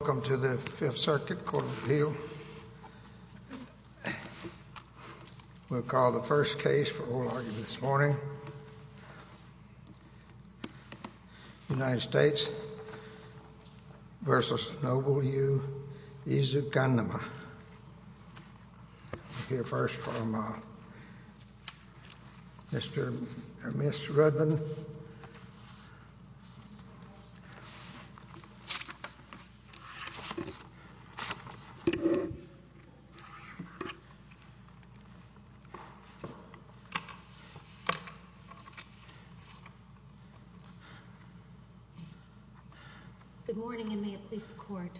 Welcome to the Fifth Circuit Court of Appeal. We'll call the first case for oral argument this morning. United States v. Noble U. Ezukanma. We'll hear first from Ms. Rudman. Good morning and may it please the Court.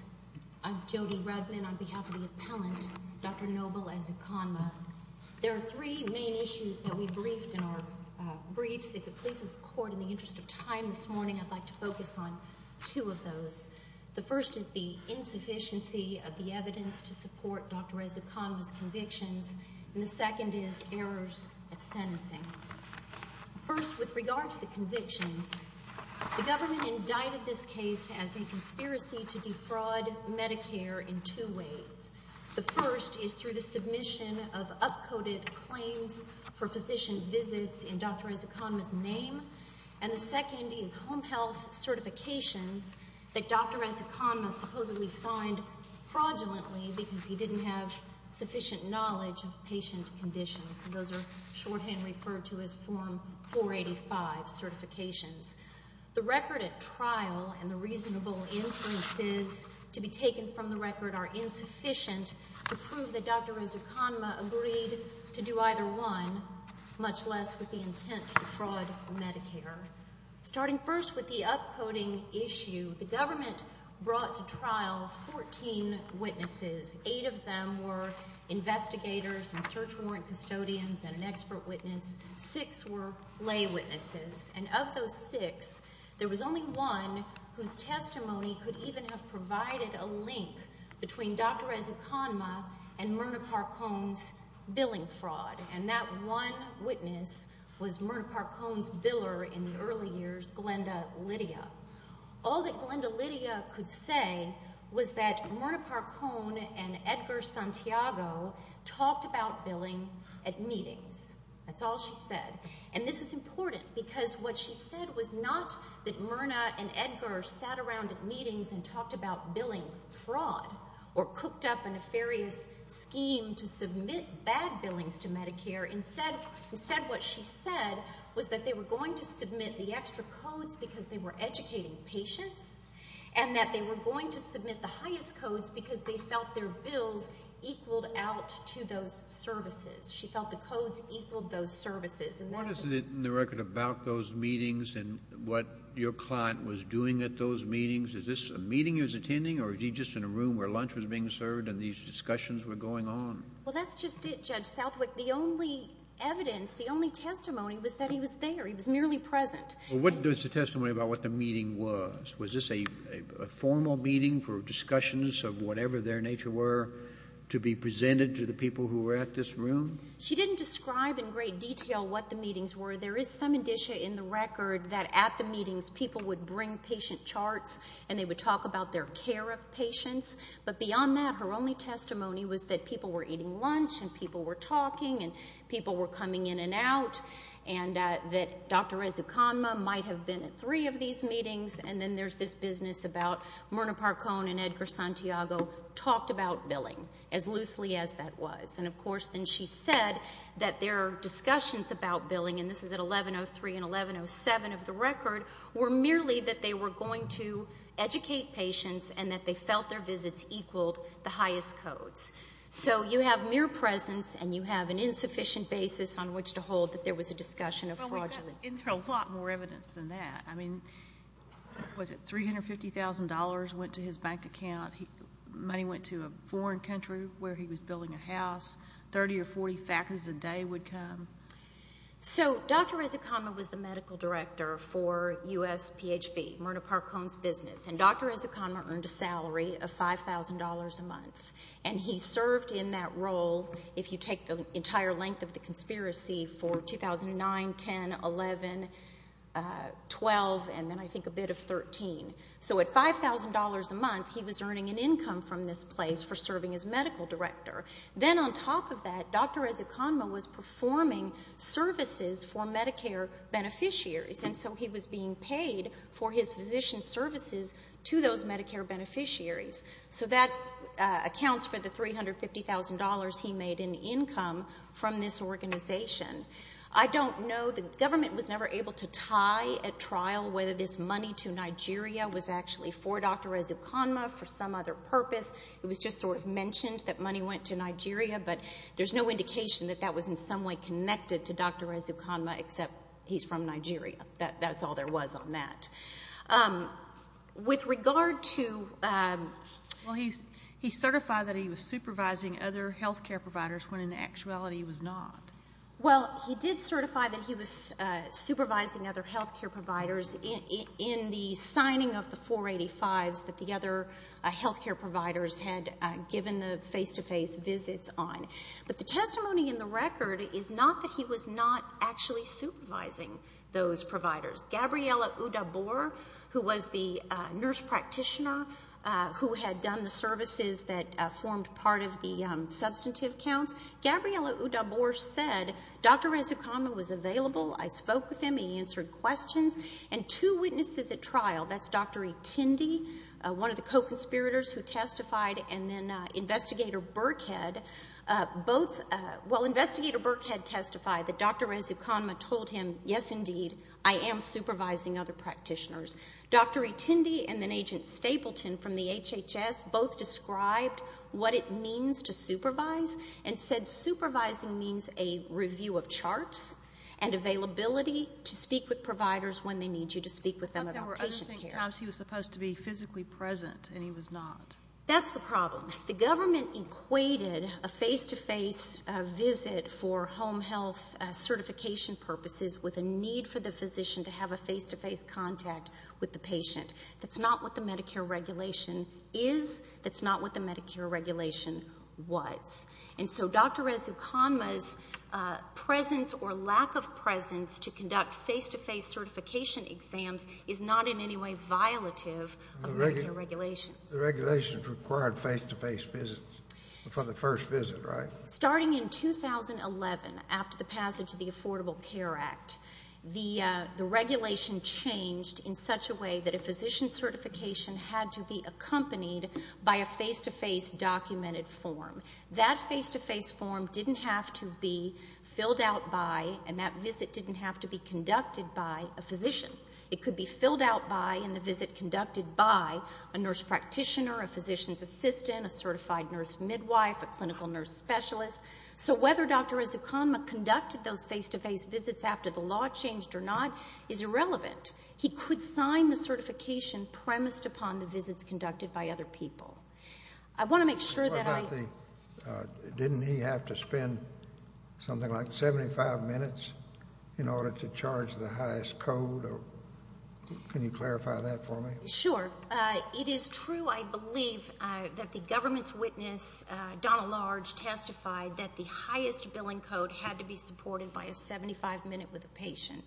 I'm Jody Rudman on behalf of the appellant, Dr. Noble Ezukanma. There are three main issues that we briefed in our briefs. If it pleases the Court, in the interest of time this morning, I'd like to focus on two of those. The first is the insufficiency of the evidence to support Dr. Ezukanma's convictions, and the second is errors at sentencing. First with regard to the convictions, the government indicted this case as a conspiracy to defraud Medicare in two ways. The first is through the submission of up-coded claims for physician visits in Dr. Ezukanma's name, and the second is home health certifications that Dr. Ezukanma supposedly signed fraudulently because he didn't have sufficient knowledge of patient conditions, and those are shorthand referred to as Form 485 certifications. The record at trial and the reasonable inferences to be taken from the record are insufficient to prove that Dr. Ezukanma agreed to do either one, much less with the intent to defraud Medicare. Starting first with the up-coding issue, the government brought to trial 14 witnesses. Eight of them were investigators and search warrant custodians and an expert witness. Six were lay witnesses, and of those six, there was only one whose testimony could even have provided a link between Dr. Ezukanma and Myrna Parcon's billing fraud, and that one witness was Myrna Parcon's biller in the early years, Glenda Lydia. All that Glenda Lydia could say was that Myrna Parcon and Edgar Santiago talked about billing at meetings. That's all she said, and this is important because what she said was not that Myrna and Edgar sat around at meetings and talked about billing fraud or cooked up a nefarious scheme to submit bad billings to Medicare. Instead, what she said was that they were going to submit the extra codes because they were educating patients and that they were going to submit the highest codes because they felt their bills equaled out to those services. She felt the codes equaled those services. What is it, in the record, about those meetings and what your client was doing at those meetings? Is this a meeting he was attending or was he just in a room where lunch was being served and these discussions were going on? Well, that's just it, Judge Southwick. The only evidence, the only testimony was that he was there. He was merely present. Well, what is the testimony about what the meeting was? Was this a formal meeting for discussions of whatever their nature were to be presented to the people who were at this room? She didn't describe in great detail what the meetings were. There is some indicia in the record that at the meetings, people would bring patient charts and they would talk about their care of patients. But beyond that, her only testimony was that people were eating lunch and people were talking and people were coming in and out and that Dr. Ezekanma might have been at three of these meetings and then there's this business about Myrna Parkone and Edgar Santiago talked about what that was. And, of course, then she said that their discussions about billing, and this is at 1103 and 1107 of the record, were merely that they were going to educate patients and that they felt their visits equaled the highest codes. So you have mere presence and you have an insufficient basis on which to hold that there was a discussion of fraudulence. Well, we've got in there a lot more evidence than that. I mean, was it $350,000 went to his bank account, money went to a foreign country where he was renting a house, 30 or 40 factors a day would come? So Dr. Ezekanma was the medical director for USPHB, Myrna Parkone's business, and Dr. Ezekanma earned a salary of $5,000 a month and he served in that role, if you take the entire length of the conspiracy, for 2009, 10, 11, 12, and then I think a bit of 13. So at $5,000 a month, he was earning an income from this place for serving as medical director. Then on top of that, Dr. Ezekanma was performing services for Medicare beneficiaries, and so he was being paid for his physician services to those Medicare beneficiaries. So that accounts for the $350,000 he made in income from this organization. I don't know. The government was never able to tie at trial whether this money to Nigeria was actually for Dr. Ezekanma, for some other purpose, it was just sort of mentioned that money went to Nigeria, but there's no indication that that was in some way connected to Dr. Ezekanma except he's from Nigeria. That's all there was on that. With regard to... He certified that he was supervising other health care providers when in actuality he was not. Well, he did certify that he was supervising other health care providers in the signing of the 485s that the other health care providers had given the face-to-face visits on. But the testimony in the record is not that he was not actually supervising those providers. Gabriella Udabor, who was the nurse practitioner who had done the services that formed part of the substantive counts, Gabriella Udabor said, Dr. Ezekanma was available, I spoke with him, he answered questions. And two witnesses at trial, that's Dr. Itindi, one of the co-conspirators who testified, and then Investigator Burkhead, both... Well, Investigator Burkhead testified that Dr. Ezekanma told him, yes, indeed, I am supervising other practitioners. Dr. Itindi and then Agent Stapleton from the HHS both described what it means to supervise and said supervising means a review of charts and availability to speak with providers when they need you to speak with them about patient care. But there were other times he was supposed to be physically present and he was not. That's the problem. The government equated a face-to-face visit for home health certification purposes with a need for the physician to have a face-to-face contact with the patient. That's not what the Medicare regulation is. That's not what the Medicare regulation was. And so Dr. Ezekanma's presence or lack of presence to conduct face-to-face certification exams is not in any way violative of Medicare regulations. The regulations required face-to-face visits for the first visit, right? Starting in 2011, after the passage of the Affordable Care Act, the regulation changed in such a way that a physician certification had to be accompanied by a face-to-face documented form. That face-to-face form didn't have to be filled out by and that visit didn't have to be conducted by a physician. It could be filled out by and the visit conducted by a nurse practitioner, a physician's assistant, a certified nurse midwife, a clinical nurse specialist. So whether Dr. Ezekanma conducted those face-to-face visits after the law changed or not is irrelevant. He could sign the certification premised upon the visits conducted by other people. I want to make sure that I... Didn't he have to spend something like 75 minutes in order to charge the highest code? Can you clarify that for me? Sure. It is true, I believe, that the government's witness, Donald Large, testified that the with a patient.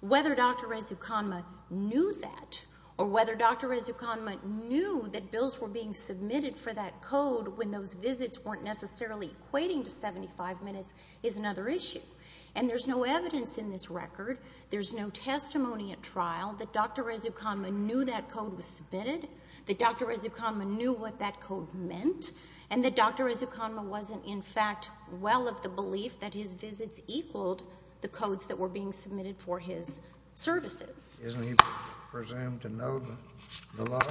Whether Dr. Ezekanma knew that or whether Dr. Ezekanma knew that bills were being submitted for that code when those visits weren't necessarily equating to 75 minutes is another issue. And there's no evidence in this record, there's no testimony at trial that Dr. Ezekanma knew that code was submitted, that Dr. Ezekanma knew what that code meant, and that Dr. Ezekanma wasn't, in fact, well of the belief that his visits equaled the codes that were being submitted for his services. Isn't he presumed to know the law?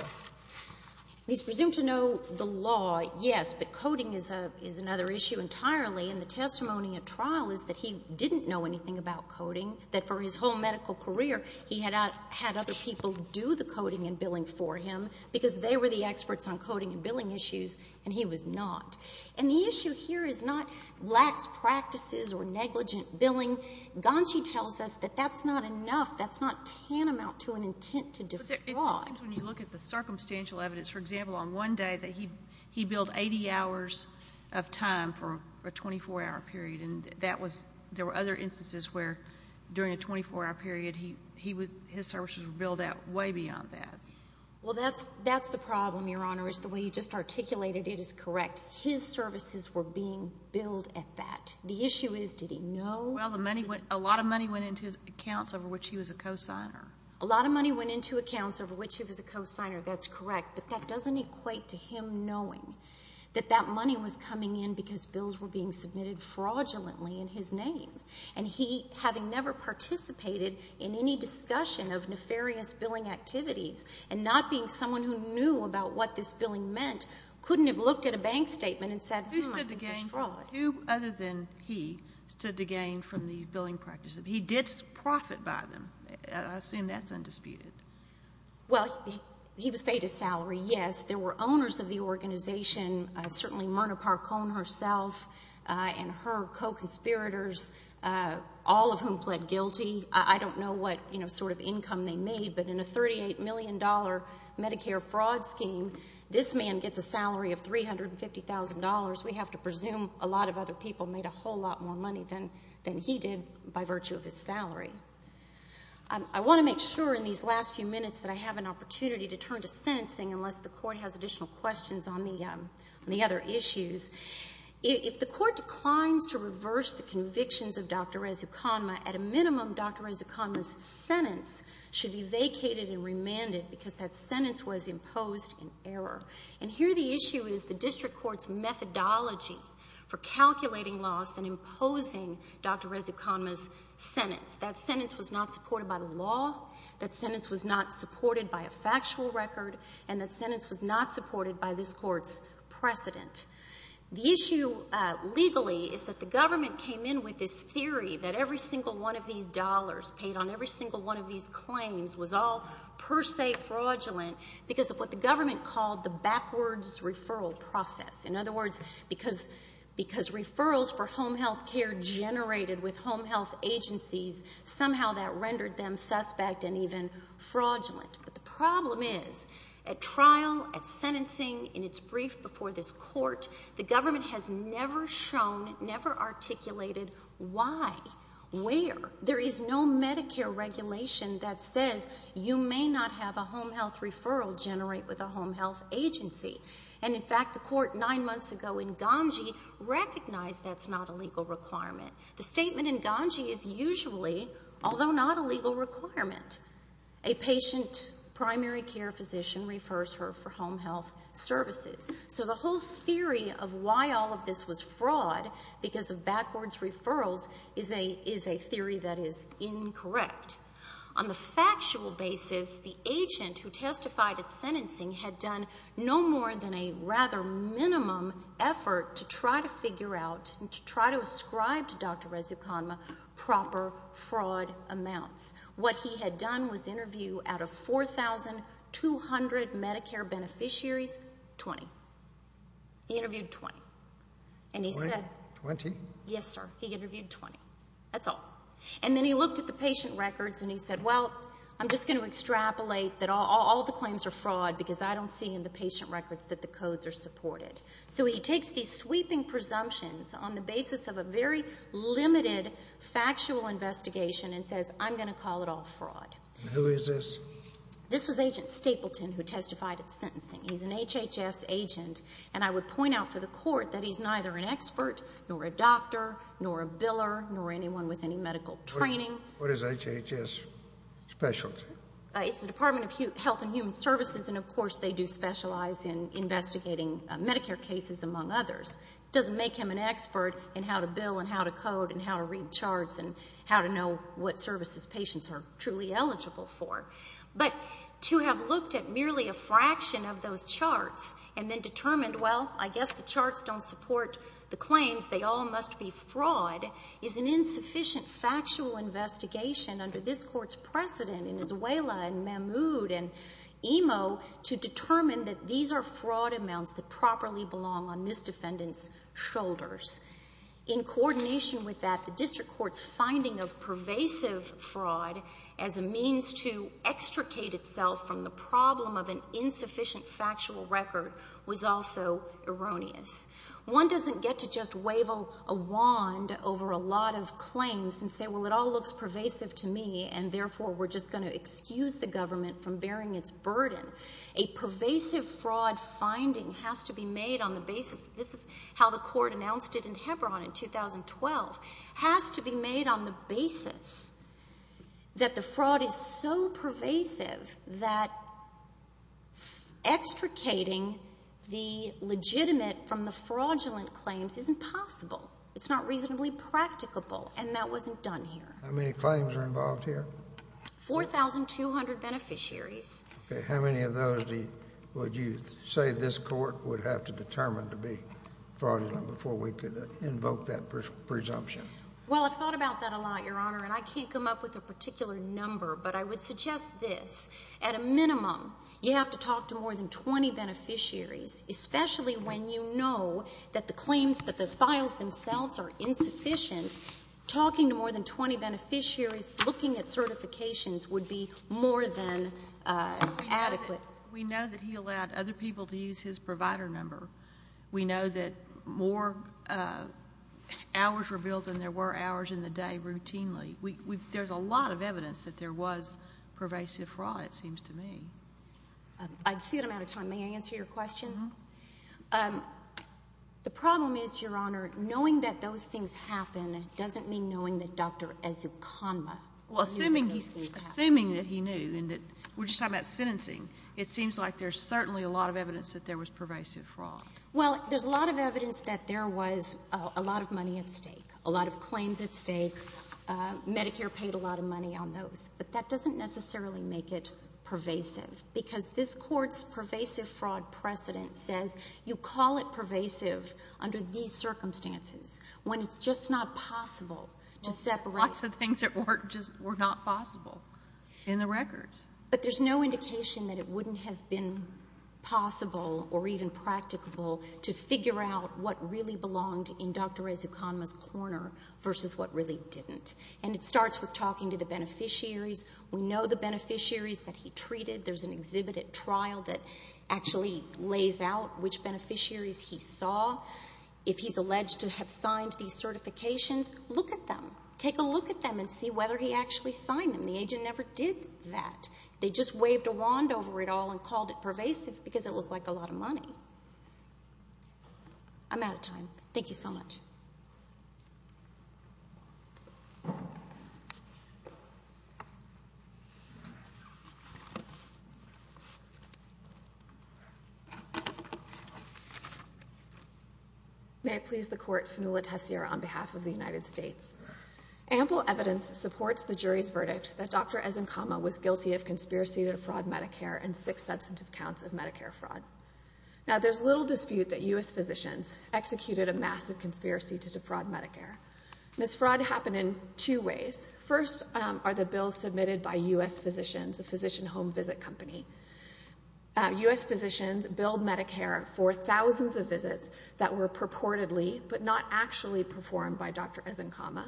He's presumed to know the law, yes, but coding is another issue entirely, and the testimony at trial is that he didn't know anything about coding, that for his whole medical career he had had other people do the coding and billing for him because they were the experts on coding and billing issues and he was not. And the issue here is not lax practices or negligent billing. Gonshi tells us that that's not enough, that's not tantamount to an intent to defraud. But it seems when you look at the circumstantial evidence, for example, on one day that he billed 80 hours of time for a 24-hour period, and that was — there were other instances where during a 24-hour period he would — his services were billed out way beyond that. Well, that's the problem, Your Honor, is the way you just articulated it is correct. His services were being billed at that. The issue is, did he know? Well, the money went — a lot of money went into his accounts over which he was a cosigner. A lot of money went into accounts over which he was a cosigner, that's correct, but that doesn't equate to him knowing that that money was coming in because bills were being submitted fraudulently in his name. And he, having never participated in any discussion of nefarious billing activities and not being someone who knew about what this billing meant, couldn't have looked at a bank statement and said, hmm, I can destroy it. Who stood to gain — who, other than he, stood to gain from these billing practices? He did profit by them. I assume that's undisputed. Well, he was paid his salary, yes. There were owners of the organization, certainly Myrna Parkone herself and her co-conspirators, all of whom pled guilty. I don't know what sort of income they made, but in a $38 million Medicare fraud scheme, this man gets a salary of $350,000. We have to presume a lot of other people made a whole lot more money than he did by virtue of his salary. I want to make sure in these last few minutes that I have an opportunity to turn to sentencing unless the Court has additional questions on the other issues. If the Court declines to reverse the convictions of Dr. Rezuconma, at a minimum, Dr. Rezuconma's sentence should be vacated and remanded because that sentence was imposed in error. And here the issue is the District Court's methodology for calculating loss and imposing Dr. Rezuconma's sentence. That sentence was not supported by the law. That sentence was not supported by a factual record. And that sentence was not supported by this Court's precedent. The issue legally is that the government came in with this theory that every single one of these dollars paid on every single one of these claims was all per se fraudulent because of what the government called the backwards referral process. In other words, because referrals for home health care generated with home health agencies, somehow that rendered them suspect and even fraudulent. But the problem is, at trial, at sentencing, in its brief before this Court, the government has never shown, never articulated why, where. There is no Medicare regulation that says you may not have a home health referral generate with a home health agency. And in fact, the Court nine months ago in Ganji recognized that's not a legal requirement. The statement in Ganji is usually, although not a legal requirement, a patient primary care physician refers her for home health services. So the whole theory of why all of this was fraud because of backwards referrals is a theory that is incorrect. On the factual basis, the agent who testified at sentencing had done no more than a rather minimum effort to try to figure out and to try to ascribe to Dr. Resuconma proper fraud amounts. What he had done was interview out of 4,200 Medicare beneficiaries, 20. He interviewed 20. And he said. Twenty? Yes, sir. He interviewed 20. That's all. And then he looked at the patient records and he said, well, I'm just going to extrapolate that all the claims are fraud because I don't see in the patient records that the codes are supported. So he takes these sweeping presumptions on the basis of a very limited factual investigation and says, I'm going to call it all fraud. And who is this? This was Agent Stapleton who testified at sentencing. He's an HHS agent. And I would point out for the court that he's neither an expert, nor a doctor, nor a biller, nor anyone with any medical training. What is HHS specialty? It's the Department of Health and Human Services. And, of course, they do specialize in investigating Medicare cases, among others. Doesn't make him an expert in how to bill and how to code and how to read charts and how to know what services patients are truly eligible for. But to have looked at merely a fraction of those charts and then determined, well, I guess the charts don't support the claims, they all must be fraud, is an insufficient factual investigation under this court's precedent in Izuela and Mahmoud and Imo to determine that these are fraud amounts that properly belong on this defendant's shoulders. In coordination with that, the district court's finding of pervasive fraud as a means to extricate itself from the problem of an insufficient factual record was also erroneous. One doesn't get to just wave a wand over a lot of claims and say, well, it all looks pervasive to me and, therefore, we're just going to excuse the government from bearing its burden. A pervasive fraud finding has to be made on the basis, this is how the court announced it in Hebron in 2012, has to be made on the basis that the fraud is so pervasive that extricating the legitimate from the fraudulent claims isn't possible. It's not reasonably practicable and that wasn't done here. How many claims are involved here? 4,200 beneficiaries. Okay. How many of those would you say this court would have to determine to be fraudulent before we could invoke that presumption? Well, I've thought about that a lot, Your Honor, and I can't come up with a particular number, but I would suggest this. At a minimum, you have to talk to more than 20 beneficiaries, especially when you know that the claims, that the files themselves are insufficient, talking to more than 20 beneficiaries, looking at certifications, would be more than adequate. We know that he allowed other people to use his provider number. We know that more hours were billed than there were hours in the day routinely. There's a lot of evidence that there was pervasive fraud, it seems to me. I see that I'm out of time. May I answer your question? Uh-huh. The problem is, Your Honor, knowing that those things happen doesn't mean knowing that Dr. Ezucanma knew that those things happened. Well, assuming that he knew and that we're just talking about sentencing, it seems like there's certainly a lot of evidence that there was pervasive fraud. Well, there's a lot of evidence that there was a lot of money at stake, a lot of claims at stake, Medicare paid a lot of money on those. But that doesn't necessarily make it pervasive, under these circumstances, when it's just not possible to separate... Lots of things that were just not possible in the records. But there's no indication that it wouldn't have been possible or even practicable to figure out what really belonged in Dr. Ezucanma's corner versus what really didn't. And it starts with talking to the beneficiaries. We know the beneficiaries that he treated. There's an exhibit at trial that actually lays out which beneficiaries he saw. If he's alleged to have signed these certifications, look at them. Take a look at them and see whether he actually signed them. The agent never did that. They just waved a wand over it all and called it pervasive because it looked like a lot of money. I'm out of time. Thank you so much. May it please the court, Fanula Tessier on behalf of the United States. Ample evidence supports the jury's verdict that Dr. Ezucanma was guilty of conspiracy to defraud Medicare and six substantive counts of Medicare fraud. Now there's little dispute that U.S. physicians executed a massive conspiracy to defraud Medicare. This fraud happened in two ways. First are the bills submitted by U.S. physicians, a physician home visit company. U.S. physicians billed Medicare for thousands of visits that were purportedly but not actually performed by Dr. Ezucanma,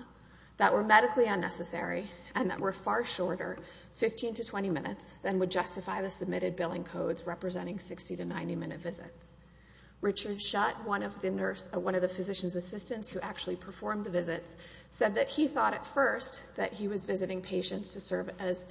that were medically unnecessary, and that were far shorter, 15 to 20 minutes, than would justify the submitted billing codes representing 60 to 90 minute visits. Richard Shutt, one of the physician's assistants who actually performed the visits, said that he thought at first that he was visiting patients to serve as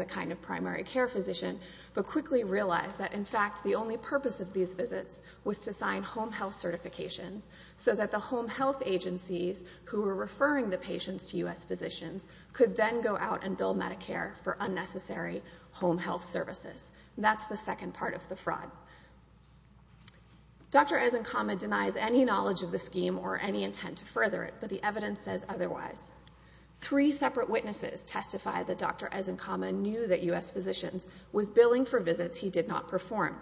a kind of primary care physician, but quickly realized that in fact the only purpose of these visits was to sign home health certifications so that the home health agencies who were referring the patients to U.S. physicians could then go out and bill Medicare for unnecessary home health services. That's the second part of the fraud. Dr. Ezucanma denies any knowledge of the scheme or any intent to further it, but the evidence says otherwise. Three separate witnesses testified that Dr. Ezucanma knew that U.S. physicians was billing for visits he did not perform.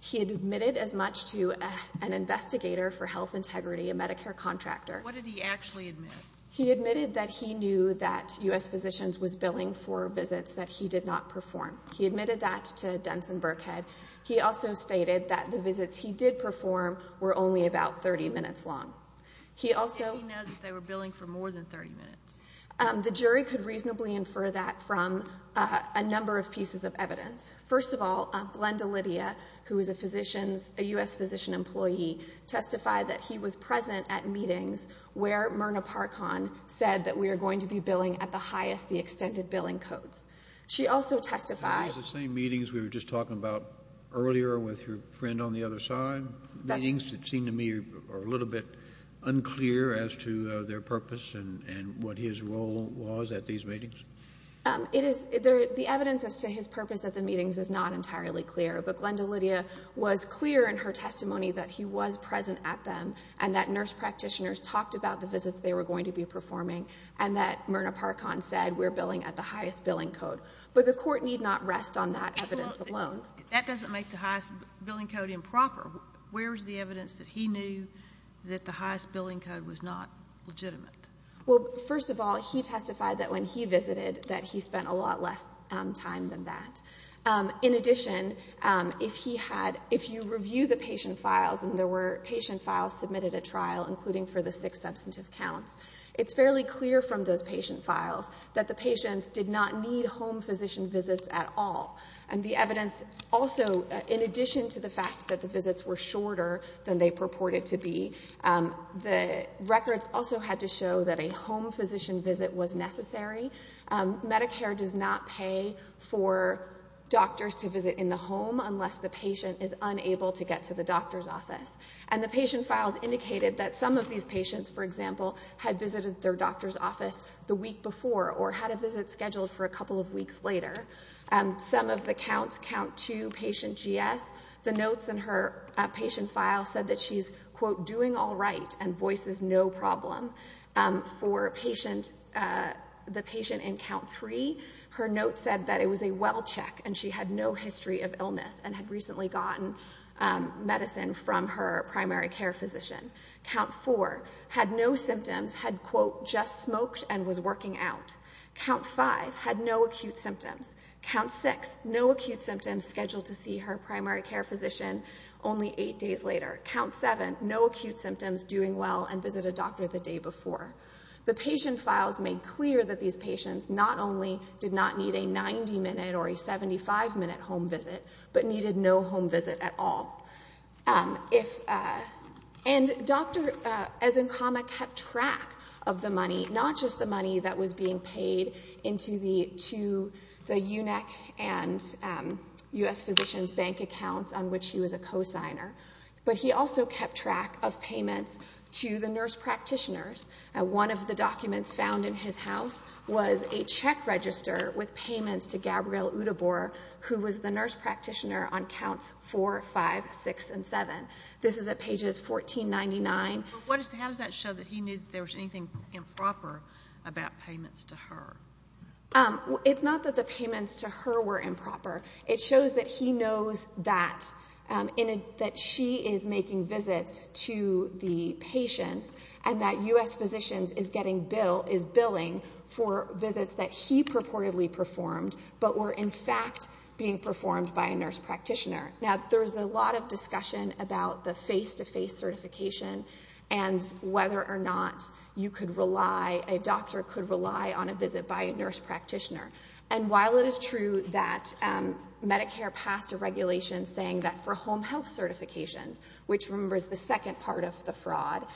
He admitted as much to an investigator for health integrity, a Medicare contractor. What did he actually admit? He admitted that he knew that U.S. physicians was billing for visits that he did not perform. He admitted that to Denson-Burkhead. He also stated that the visits he did perform were only about 30 minutes long. He also... Did he know that they were billing for more than 30 minutes? The jury could reasonably infer that from a number of pieces of evidence. First of all, Glenda Lydia, who is a U.S. physician employee, testified that he was present at meetings where Myrna Parkhan said that we are going to be billing at the highest the extended billing codes. She also testified... I think it was the same meetings we were just talking about earlier with your friend on a little bit unclear as to their purpose and what his role was at these meetings. The evidence as to his purpose at the meetings is not entirely clear, but Glenda Lydia was clear in her testimony that he was present at them and that nurse practitioners talked about the visits they were going to be performing and that Myrna Parkhan said we're billing at the highest billing code. But the Court need not rest on that evidence alone. That doesn't make the highest billing code improper. Where is the evidence that he knew that the highest billing code was not legitimate? Well, first of all, he testified that when he visited that he spent a lot less time than that. In addition, if you review the patient files and there were patient files submitted at trial including for the six substantive counts, it's fairly clear from those patient files that the patients did not need home physician visits at all. And the evidence also, in addition to the fact that the visits were shorter than they purported to be, the records also had to show that a home physician visit was necessary. Medicare does not pay for doctors to visit in the home unless the patient is unable to get to the doctor's office. And the patient files indicated that some of these patients, for example, had visited their doctor's office the week before or had a visit scheduled for a couple of weeks later. Some of the counts, count two, patient GS, the notes in her patient file said that she's quote, doing all right and voices no problem for the patient in count three. Her note said that it was a well check and she had no history of illness and had recently gotten medicine from her primary care physician. Count four had no symptoms, had quote, just smoked and was working out. Count five had no acute symptoms. Count six, no acute symptoms, scheduled to see her primary care physician only eight days later. Count seven, no acute symptoms, doing well and visited a doctor the day before. The patient files made clear that these patients not only did not need a 90-minute or a 75-minute home visit, but needed no home visit at all. And Dr. Ezenkama kept track of the money, not just the money that was being paid into the UNEC and U.S. Physicians Bank accounts on which he was a cosigner, but he also kept track of payments to the nurse practitioners. One of the documents found in his house was a check register with payments to Gabrielle at six and seven. This is at pages 1499. How does that show that he knew that there was anything improper about payments to her? It's not that the payments to her were improper. It shows that he knows that she is making visits to the patients and that U.S. Physicians is billing for visits that he purportedly performed, but were in fact being performed by a nurse practitioner. Now, there was a lot of discussion about the face-to-face certification and whether or not you could rely, a doctor could rely on a visit by a nurse practitioner. And while it is true that Medicare passed a regulation saying that for home health certifications, which remember is the second part of the fraud,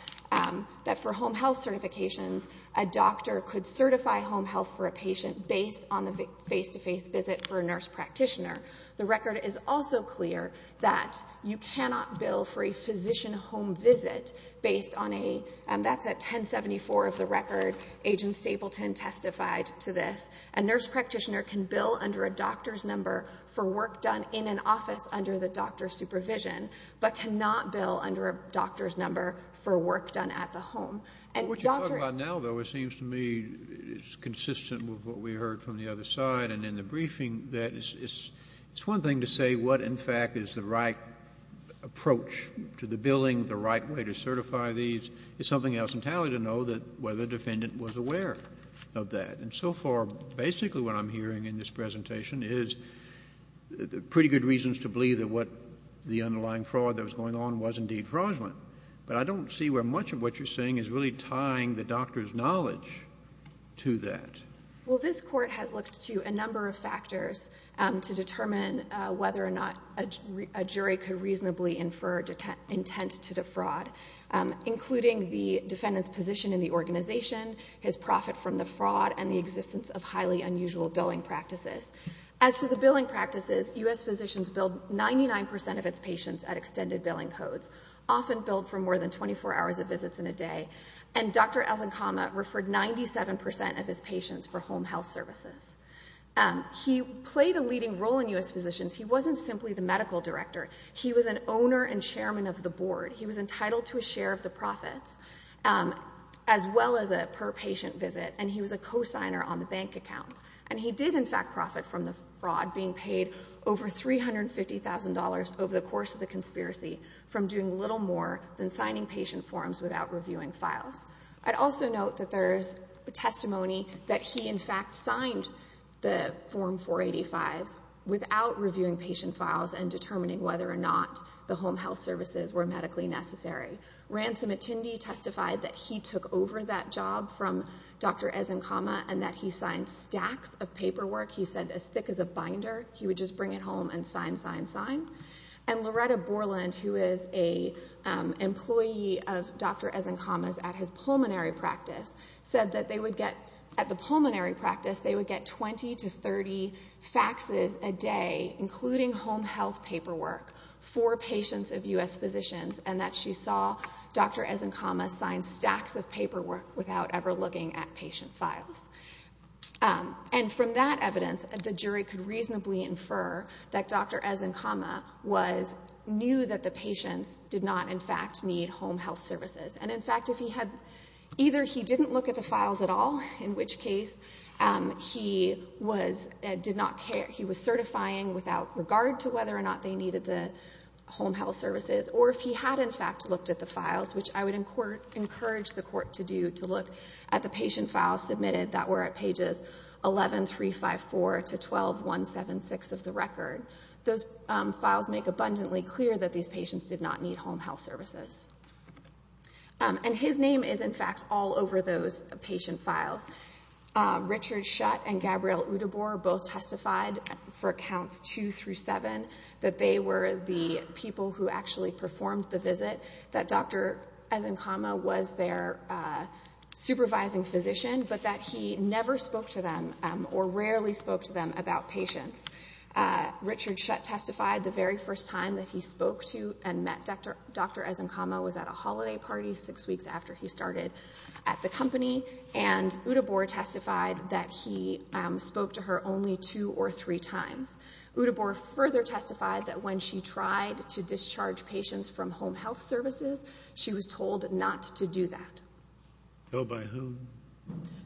that for home health certifications, a doctor could certify home health for a patient based on the face-to-face visit for a nurse practitioner. The record is also clear that you cannot bill for a physician home visit based on a, that's at 1074 of the record, Agent Stapleton testified to this, a nurse practitioner can bill under a doctor's number for work done in an office under the doctor's supervision, but cannot bill under a doctor's number for work done at the home. What you're talking about now, though, it seems to me is consistent with what we heard from the other side and in the briefing, that it's one thing to say what in fact is the right approach to the billing, the right way to certify these, it's something else entirely to know that whether the defendant was aware of that. And so far, basically what I'm hearing in this presentation is pretty good reasons to believe that what the underlying fraud that was going on was indeed fraudulent. But I don't see where much of what you're saying is really tying the doctor's knowledge to that. Well, this court has looked to a number of factors to determine whether or not a jury could reasonably infer intent to defraud, including the defendant's position in the organization, his profit from the fraud, and the existence of highly unusual billing practices. As to the billing practices, U.S. physicians billed 99 percent of its patients at extended billing codes, often billed for more than 24 hours of visits in a day. And Dr. Elzenkama referred 97 percent of his patients for home health services. He played a leading role in U.S. physicians. He wasn't simply the medical director. He was an owner and chairman of the board. He was entitled to a share of the profits, as well as a per-patient visit, and he was a cosigner on the bank accounts. And he did, in fact, profit from the fraud, being paid over $350,000 over the course of the conspiracy, from doing little more than signing patient forms without reviewing files. I'd also note that there's testimony that he, in fact, signed the Form 485s without reviewing patient files and determining whether or not the home health services were medically necessary. Ransom attendee testified that he took over that job from Dr. Elzenkama and that he signed stacks of paperwork, he said, as thick as a binder. He would just bring it home and sign, sign, sign. And Loretta Borland, who is an employee of Dr. Elzenkama's at his pulmonary practice, said that they would get, at the pulmonary practice, they would get 20 to 30 faxes a day, including home health paperwork, for patients of U.S. physicians, and that she saw Dr. Elzenkama sign stacks of paperwork without ever looking at patient files. And from that evidence, the jury could reasonably infer that Dr. Elzenkama was, knew that the patients did not, in fact, need home health services. And, in fact, if he had, either he didn't look at the files at all, in which case, he was, did not care, he was certifying without regard to whether or not they needed the home health services, or if he had, in fact, looked at the files, which I would encourage the were at pages 11, 3, 5, 4, to 12, 1, 7, 6 of the record. Those files make abundantly clear that these patients did not need home health services. And his name is, in fact, all over those patient files. Richard Shutt and Gabrielle Udebor both testified for counts two through seven that they were the people who actually performed the visit, that Dr. Elzenkama was their supervising physician, but that he never spoke to them or rarely spoke to them about patients. Richard Shutt testified the very first time that he spoke to and met Dr. Elzenkama was at a holiday party six weeks after he started at the company. And Udebor testified that he spoke to her only two or three times. Udebor further testified that when she tried to discharge patients from home health services, she was told not to do that. Told by whom?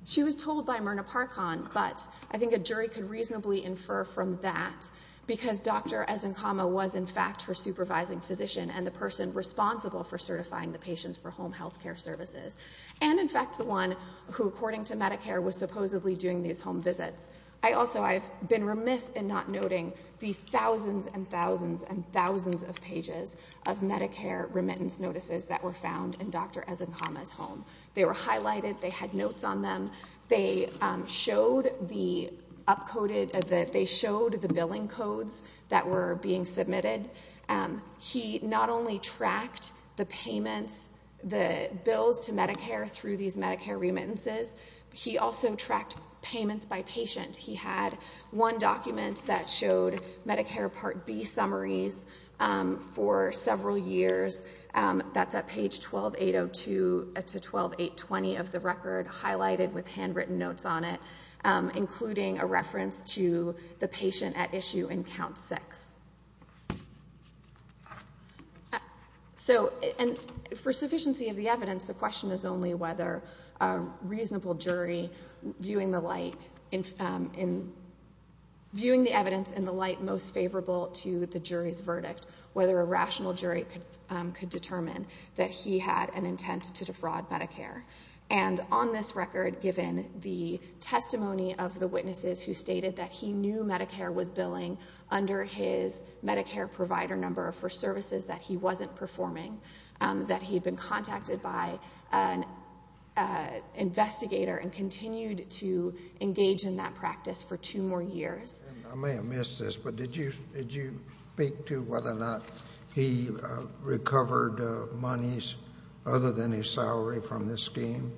She was told by Myrna Parkhan, but I think a jury could reasonably infer from that, because Dr. Elzenkama was, in fact, her supervising physician and the person responsible for certifying the patients for home health care services. And, in fact, the one who, according to Medicare, was supposedly doing these home visits. I also, I've been remiss in not noting the thousands and thousands and thousands of pages of Medicare remittance notices that were found in Dr. Elzenkama's home. They were highlighted. They had notes on them. They showed the upcoded, they showed the billing codes that were being submitted. He not only tracked the payments, the bills to Medicare through these Medicare remittances, he also tracked payments by patient. He had one document that showed Medicare Part B summaries for several years. That's at page 12802 to 12820 of the record, highlighted with handwritten notes on it, including a reference to the patient at issue in count six. So, and for sufficiency of the evidence, the question is only whether a reasonable jury viewing the light, viewing the evidence in the light most favorable to the jury's verdict, whether a rational jury could determine that he had an intent to defraud Medicare. And on this record, given the testimony of the witnesses who stated that he knew Medicare was billing under his Medicare provider number for services that he wasn't performing, that he'd been contacted by an investigator and continued to engage in that practice for two more years. I may have missed this, but did you speak to whether or not he recovered monies other than his salary from this scheme?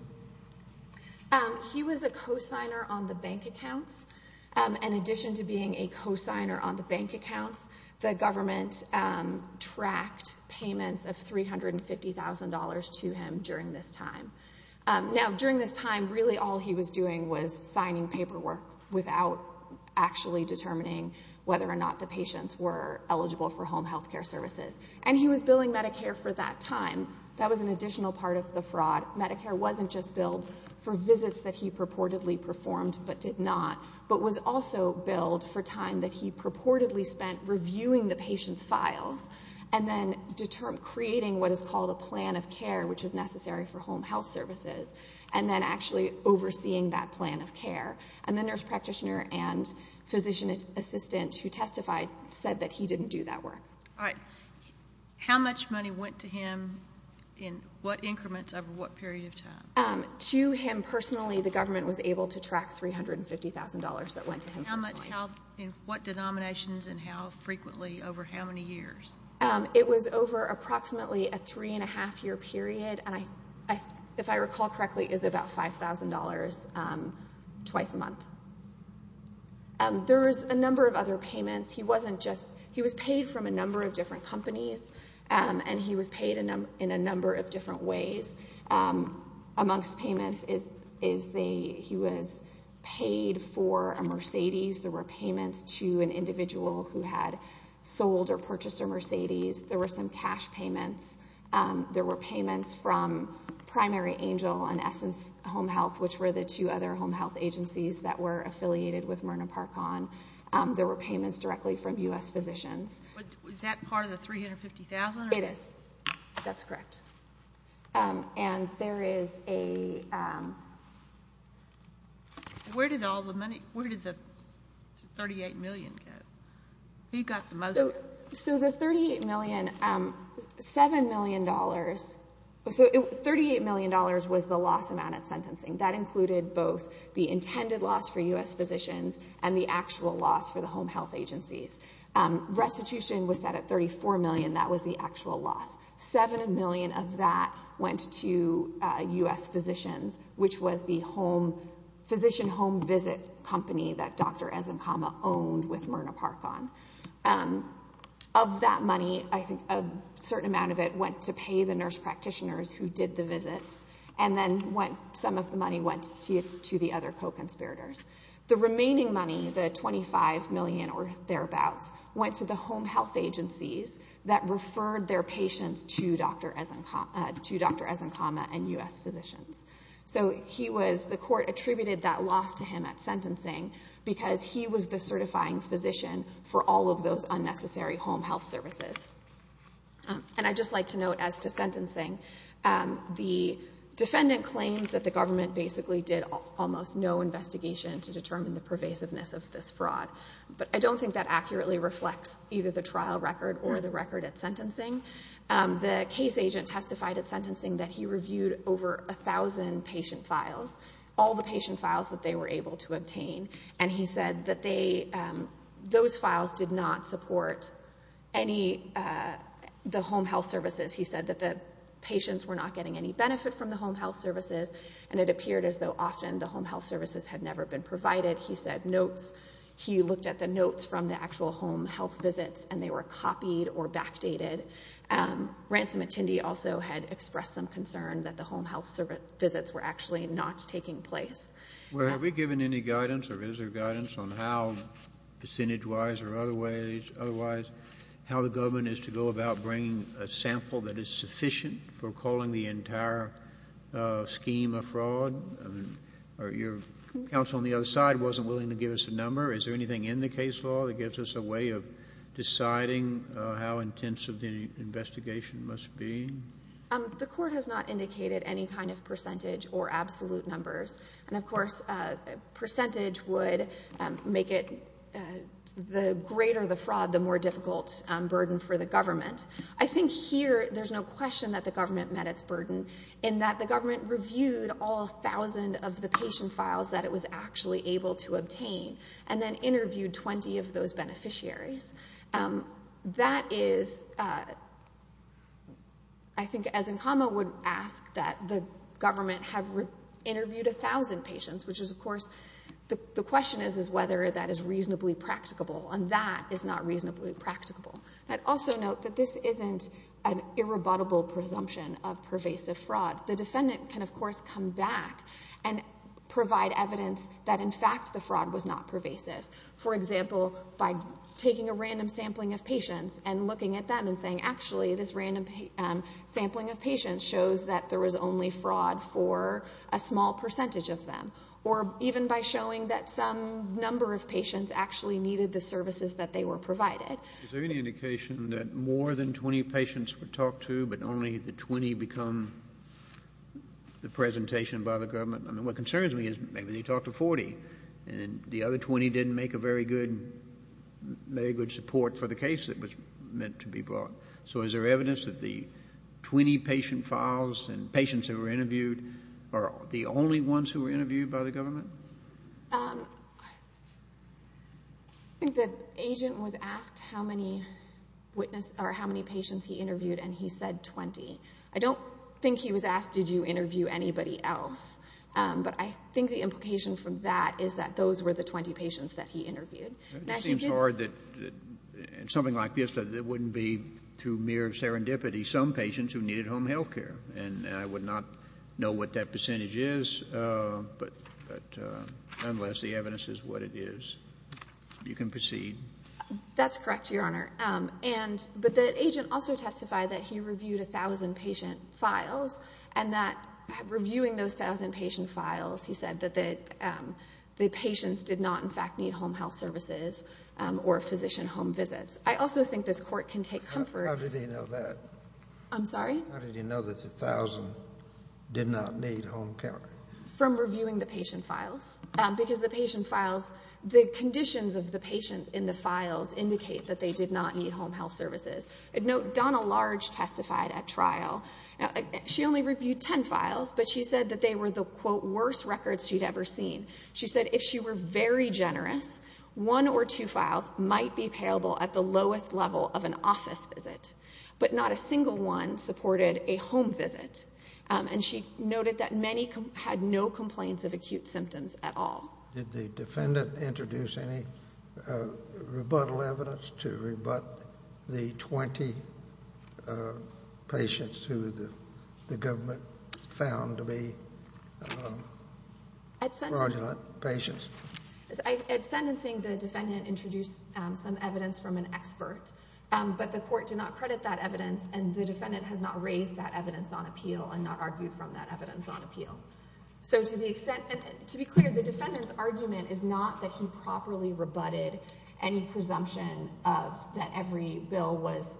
He was a co-signer on the bank accounts. In addition to being a co-signer on the bank accounts, the government tracked payments of $350,000 to him during this time. Now, during this time, really all he was doing was signing paperwork without actually determining whether or not the patients were eligible for home healthcare services. And he was billing Medicare for that time. That was an additional part of the fraud. Medicare wasn't just billed for visits that he purportedly performed but did not, but was also billed for time that he purportedly spent reviewing the patient's files and then creating what is called a plan of care, which is necessary for home health services, and then actually overseeing that plan of care. And the nurse practitioner and physician assistant who testified said that he didn't do that work. All right. How much money went to him in what increments over what period of time? To him personally, the government was able to track $350,000 that went to him personally. How much, in what denominations and how frequently over how many years? It was over approximately a three-and-a-half-year period. And if I recall correctly, it was about $5,000 twice a month. There was a number of other payments. He wasn't just, he was paid from a number of different companies and he was paid in a number of different ways. Amongst payments is he was paid for a Mercedes. There were payments to an individual who had sold or purchased a Mercedes. There were some cash payments. There were payments from Primary Angel and Essence Home Health, which were the two other home health agencies that were affiliated with Myrna Parkon. There were payments directly from U.S. physicians. But was that part of the $350,000? It is. That's correct. And there is a... Where did all the money, where did the $38 million go? Who got the most? So the $38 million, $7 million, so $38 million was the loss amount at sentencing. That included both the intended loss for U.S. physicians and the actual loss for the home health agencies. Restitution was set at $34 million. That was the actual loss. $7 million of that went to U.S. physicians, which was the physician home visit company that Dr. Ezenkama owned with Myrna Parkon. Of that money, I think a certain amount of it went to pay the nurse practitioners who did the visits. And then some of the money went to the other co-conspirators. The remaining money, the $25 million or thereabouts, went to the home health agencies that referred their patients So he was, the court attributed that loss to him at sentencing because he was the certifying physician for all of those unnecessary home health services. And I'd just like to note as to sentencing, the defendant claims that the government basically did almost no investigation to determine the pervasiveness of this fraud. But I don't think that accurately reflects either the trial record or the record at sentencing. The case agent testified at sentencing that he reviewed over a thousand patient files, all the patient files that they were able to obtain. And he said that those files did not support any of the home health services. He said that the patients were not getting any benefit from the home health services and it appeared as though often the home health services had never been provided. He said notes, he looked at the notes from the actual home health visits and they were copied or backdated. Ransom attendee also had expressed some concern that the home health visits were actually not taking place. Well, have we given any guidance or is there guidance on how, percentage-wise or otherwise, how the government is to go about bringing a sample that is sufficient for calling the entire scheme a fraud? Your counsel on the other side wasn't willing to give us a number. Is there anything in the case law that gives us a way of deciding how intensive the investigation must be? The court has not indicated any kind of percentage or absolute numbers. And of course, percentage would make it, the greater the fraud, the more difficult burden for the government. I think here there's no question that the government met its burden in that the government reviewed all thousand of the patient files that it was actually able to obtain. And then interviewed 20 of those beneficiaries. That is, I think, as Nkama would ask, that the government have interviewed a thousand patients, which is, of course, the question is whether that is reasonably practicable. And that is not reasonably practicable. I'd also note that this isn't an irrebuttable presumption of pervasive fraud. The defendant can, of course, come back and provide evidence that, in fact, the fraud was not pervasive. For example, by taking a random sampling of patients and looking at them and saying, actually, this random sampling of patients shows that there was only fraud for a small percentage of them. Or even by showing that some number of patients actually needed the services that they were provided. Is there any indication that more than 20 patients were talked to, but only the 20 become the presentation by the government? What concerns me is maybe they talked to 40, and the other 20 didn't make a very good support for the case that was meant to be brought. So is there evidence that the 20 patient files and patients who were interviewed are the only ones who were interviewed by the government? I think the agent was asked how many patients he interviewed, and he said 20. I don't think he was asked, did you interview anybody else? But I think the implication from that is that those were the 20 patients that he interviewed. It seems hard that something like this, it wouldn't be through mere serendipity, some patients who needed home health care. And I would not know what that percentage is, but unless the evidence is what it is, you can proceed. That's correct, Your Honor. But the agent also testified that he reviewed 1,000 patient files, and that reviewing those 1,000 patient files, he said that the patients did not, in fact, need home health services or physician home visits. I also think this Court can take comfort. How did he know that? I'm sorry? How did he know that the 1,000 did not need home care? From reviewing the patient files, because the patient files, the conditions of the patient in the files indicate that they did not need home health services. Note Donna Large testified at trial. She only reviewed 10 files, but she said that they were the, quote, worst records she'd ever seen. She said if she were very generous, one or two files might be payable at the lowest level of an office visit, but not a single one supported a home visit. And she noted that many had no complaints of acute symptoms at all. Did the defendant introduce any rebuttal evidence to rebut the 20 patients who the government found to be fraudulent patients? At sentencing, the defendant introduced some evidence from an expert, but the Court did not credit that evidence, and the defendant has not raised that evidence on appeal and not argued from that evidence on appeal. So to the extent, and to be clear, the defendant's argument is not that he properly rebutted any presumption that every bill was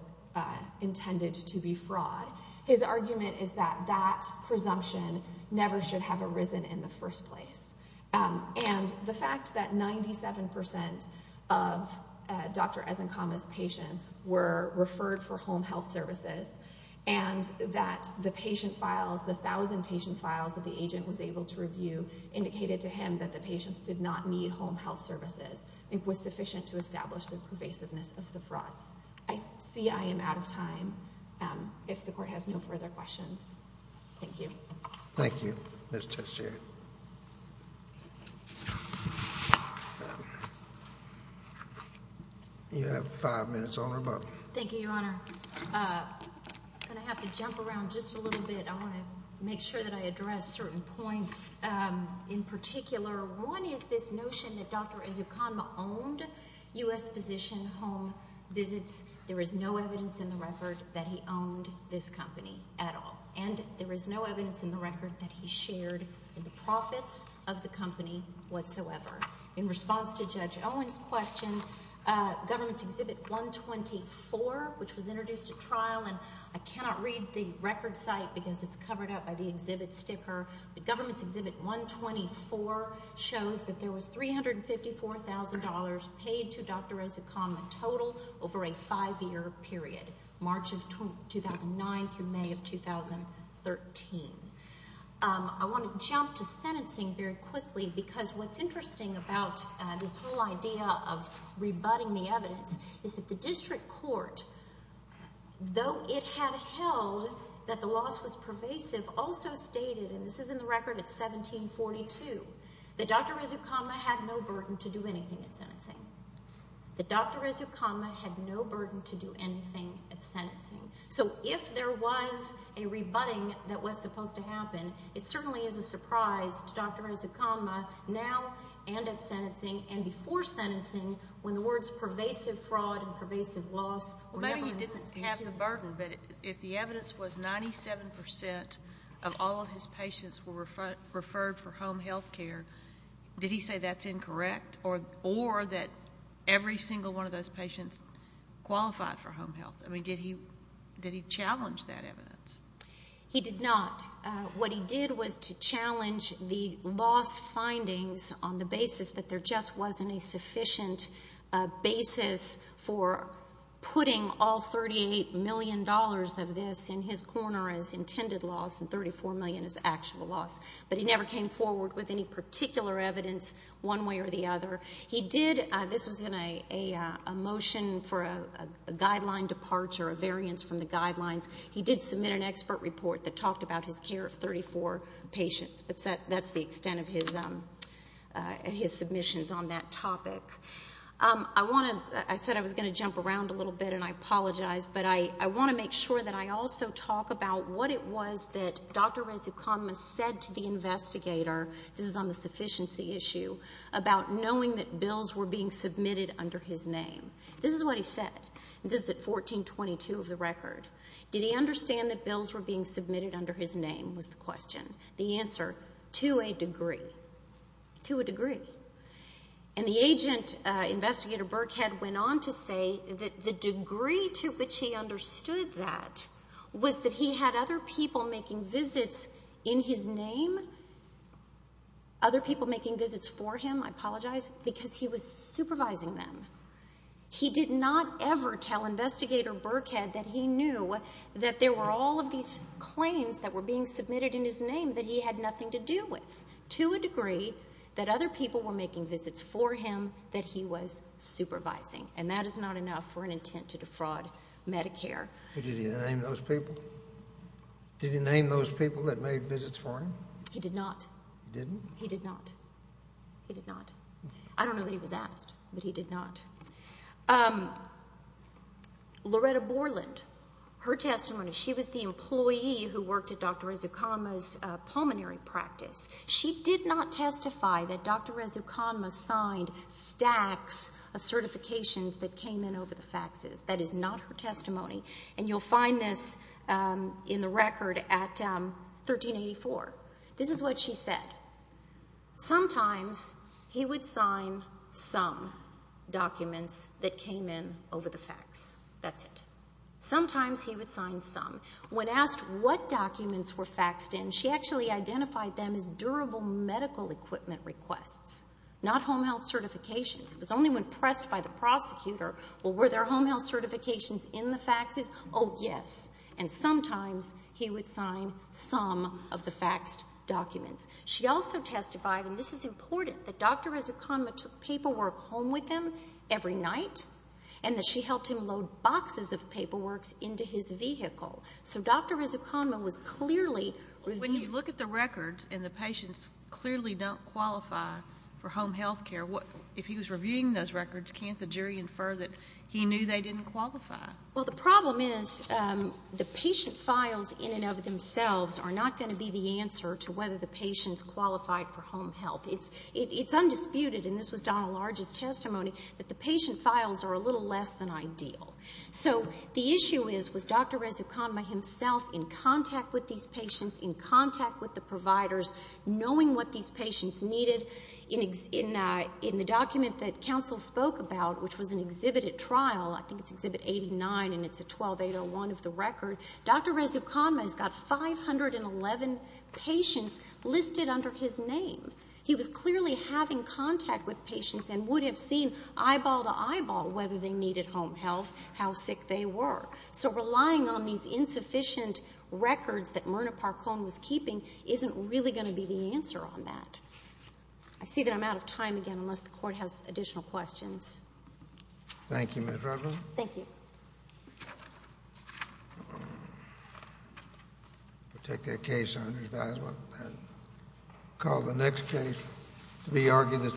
intended to be fraud. His argument is that that presumption never should have arisen in the first place. And the fact that 97% of Dr. Ezenkama's patients were referred for home health services and that the patient files, the 1,000 patient files that the agent was able to review indicated to him that the patients did not need home health services, I think was sufficient to establish the pervasiveness of the fraud. I see I am out of time, if the Court has no further questions. Thank you. Thank you, Ms. Teixeira. You have five minutes on or above. Thank you, Your Honor. I'm going to have to jump around just a little bit. I want to make sure that I address certain points. In particular, one is this notion that Dr. Ezenkama owned U.S. Physician Home Visits. There is no evidence in the record that he owned this company at all. And there is no evidence in the record that he shared in the profits of the company whatsoever. In response to Judge Owen's question, Government's Exhibit 124, which was introduced at trial, and I cannot read the record site because it's covered up by the exhibit sticker, but Government's Exhibit 124 shows that there was $354,000 paid to Dr. Ezenkama total over a five-year period, March of 2009 through May of 2013. I want to jump to sentencing very quickly because what's interesting about this whole idea of rebutting the evidence is that the District Court, though it had held that the loss was pervasive, also stated, and this is in the record, it's 1742, that Dr. Ezenkama had no burden to do anything at sentencing. That Dr. Ezenkama had no burden to do anything at sentencing. So if there was a rebutting that was supposed to happen, it certainly is a surprise to Dr. Ezenkama now and at sentencing and before sentencing when the words pervasive fraud and pervasive loss were never instituted. Maybe he didn't have the burden, but if the evidence was 97% of all of his patients were referred for home health care, did he say that's incorrect or that every single one of those patients qualified for home health? I mean, did he challenge that evidence? He did not. What he did was to challenge the loss findings on the basis that there just wasn't a sufficient basis for putting all $38 million of this in his corner as intended loss and $34 million as actual loss, but he never came forward with any particular evidence one way or the other. He did, this was in a motion for a guideline departure, a variance from the guidelines. He did submit an expert report that talked about his care of 34 patients, but that's the extent of his submissions on that topic. I want to, I said I was going to jump around a little bit and I apologize, but I want to make sure that I also talk about what it was that Dr. Rezuconma said to the investigator, this is on the sufficiency issue, about knowing that bills were being submitted under his name. This is what he said. This is at 1422 of the record. Did he understand that bills were being submitted under his name was the question. The answer, to a degree, to a degree. And the agent investigator, Burkhead, went on to say that the degree to which he understood that was that he had other people making visits in his name, other people making visits for him, I apologize, because he was supervising them. He did not ever tell investigator Burkhead that he knew that there were all of these claims that were being submitted in his name that he had nothing to do with, to a degree that other people were making visits for him that he was supervising. And that is not enough for an intent to defraud Medicare. Did he name those people? Did he name those people that made visits for him? He did not. He didn't? He did not. He did not. I don't know that he was asked, but he did not. Loretta Borland, her testimony, she was the employee who worked at Dr. Rizuconma's pulmonary practice. She did not testify that Dr. Rizuconma signed stacks of certifications that came in over the faxes. That is not her testimony. You'll find this in the record at 1384. This is what she said. Sometimes he would sign some documents that came in over the fax. That's it. Sometimes he would sign some. When asked what documents were faxed in, she actually identified them as durable medical equipment requests, not home health certifications. It was only when pressed by the prosecutor, well, were there home health certifications in the faxes? Oh, yes. And sometimes he would sign some of the faxed documents. She also testified, and this is important, that Dr. Rizuconma took paperwork home with him every night and that she helped him load boxes of paperworks into his vehicle. So Dr. Rizuconma was clearly reviewing- When you look at the records and the patients clearly don't qualify for home health care, if he was reviewing those records, can't the jury infer that he knew they didn't qualify? Well, the problem is the patient files in and of themselves are not going to be the answer to whether the patient's qualified for home health. It's undisputed, and this was Donna Large's testimony, that the patient files are a little less than ideal. So the issue is, was Dr. Rizuconma himself in contact with these patients, in contact with the providers, knowing what these patients needed? In the document that counsel spoke about, which was an exhibited trial, I think it's Exhibit 89, and it's a 12801 of the record, Dr. Rizuconma has got 511 patients listed under his name. He was clearly having contact with patients and would have seen eyeball to eyeball whether they needed home health, how sick they were. So relying on these insufficient records that Myrna Parkone was keeping isn't really going to be the answer on that. I see that I'm out of time again, unless the Court has additional questions. Thank you, Ms. Rutland. Thank you. We'll take that case under advisement and call the next case to be argued.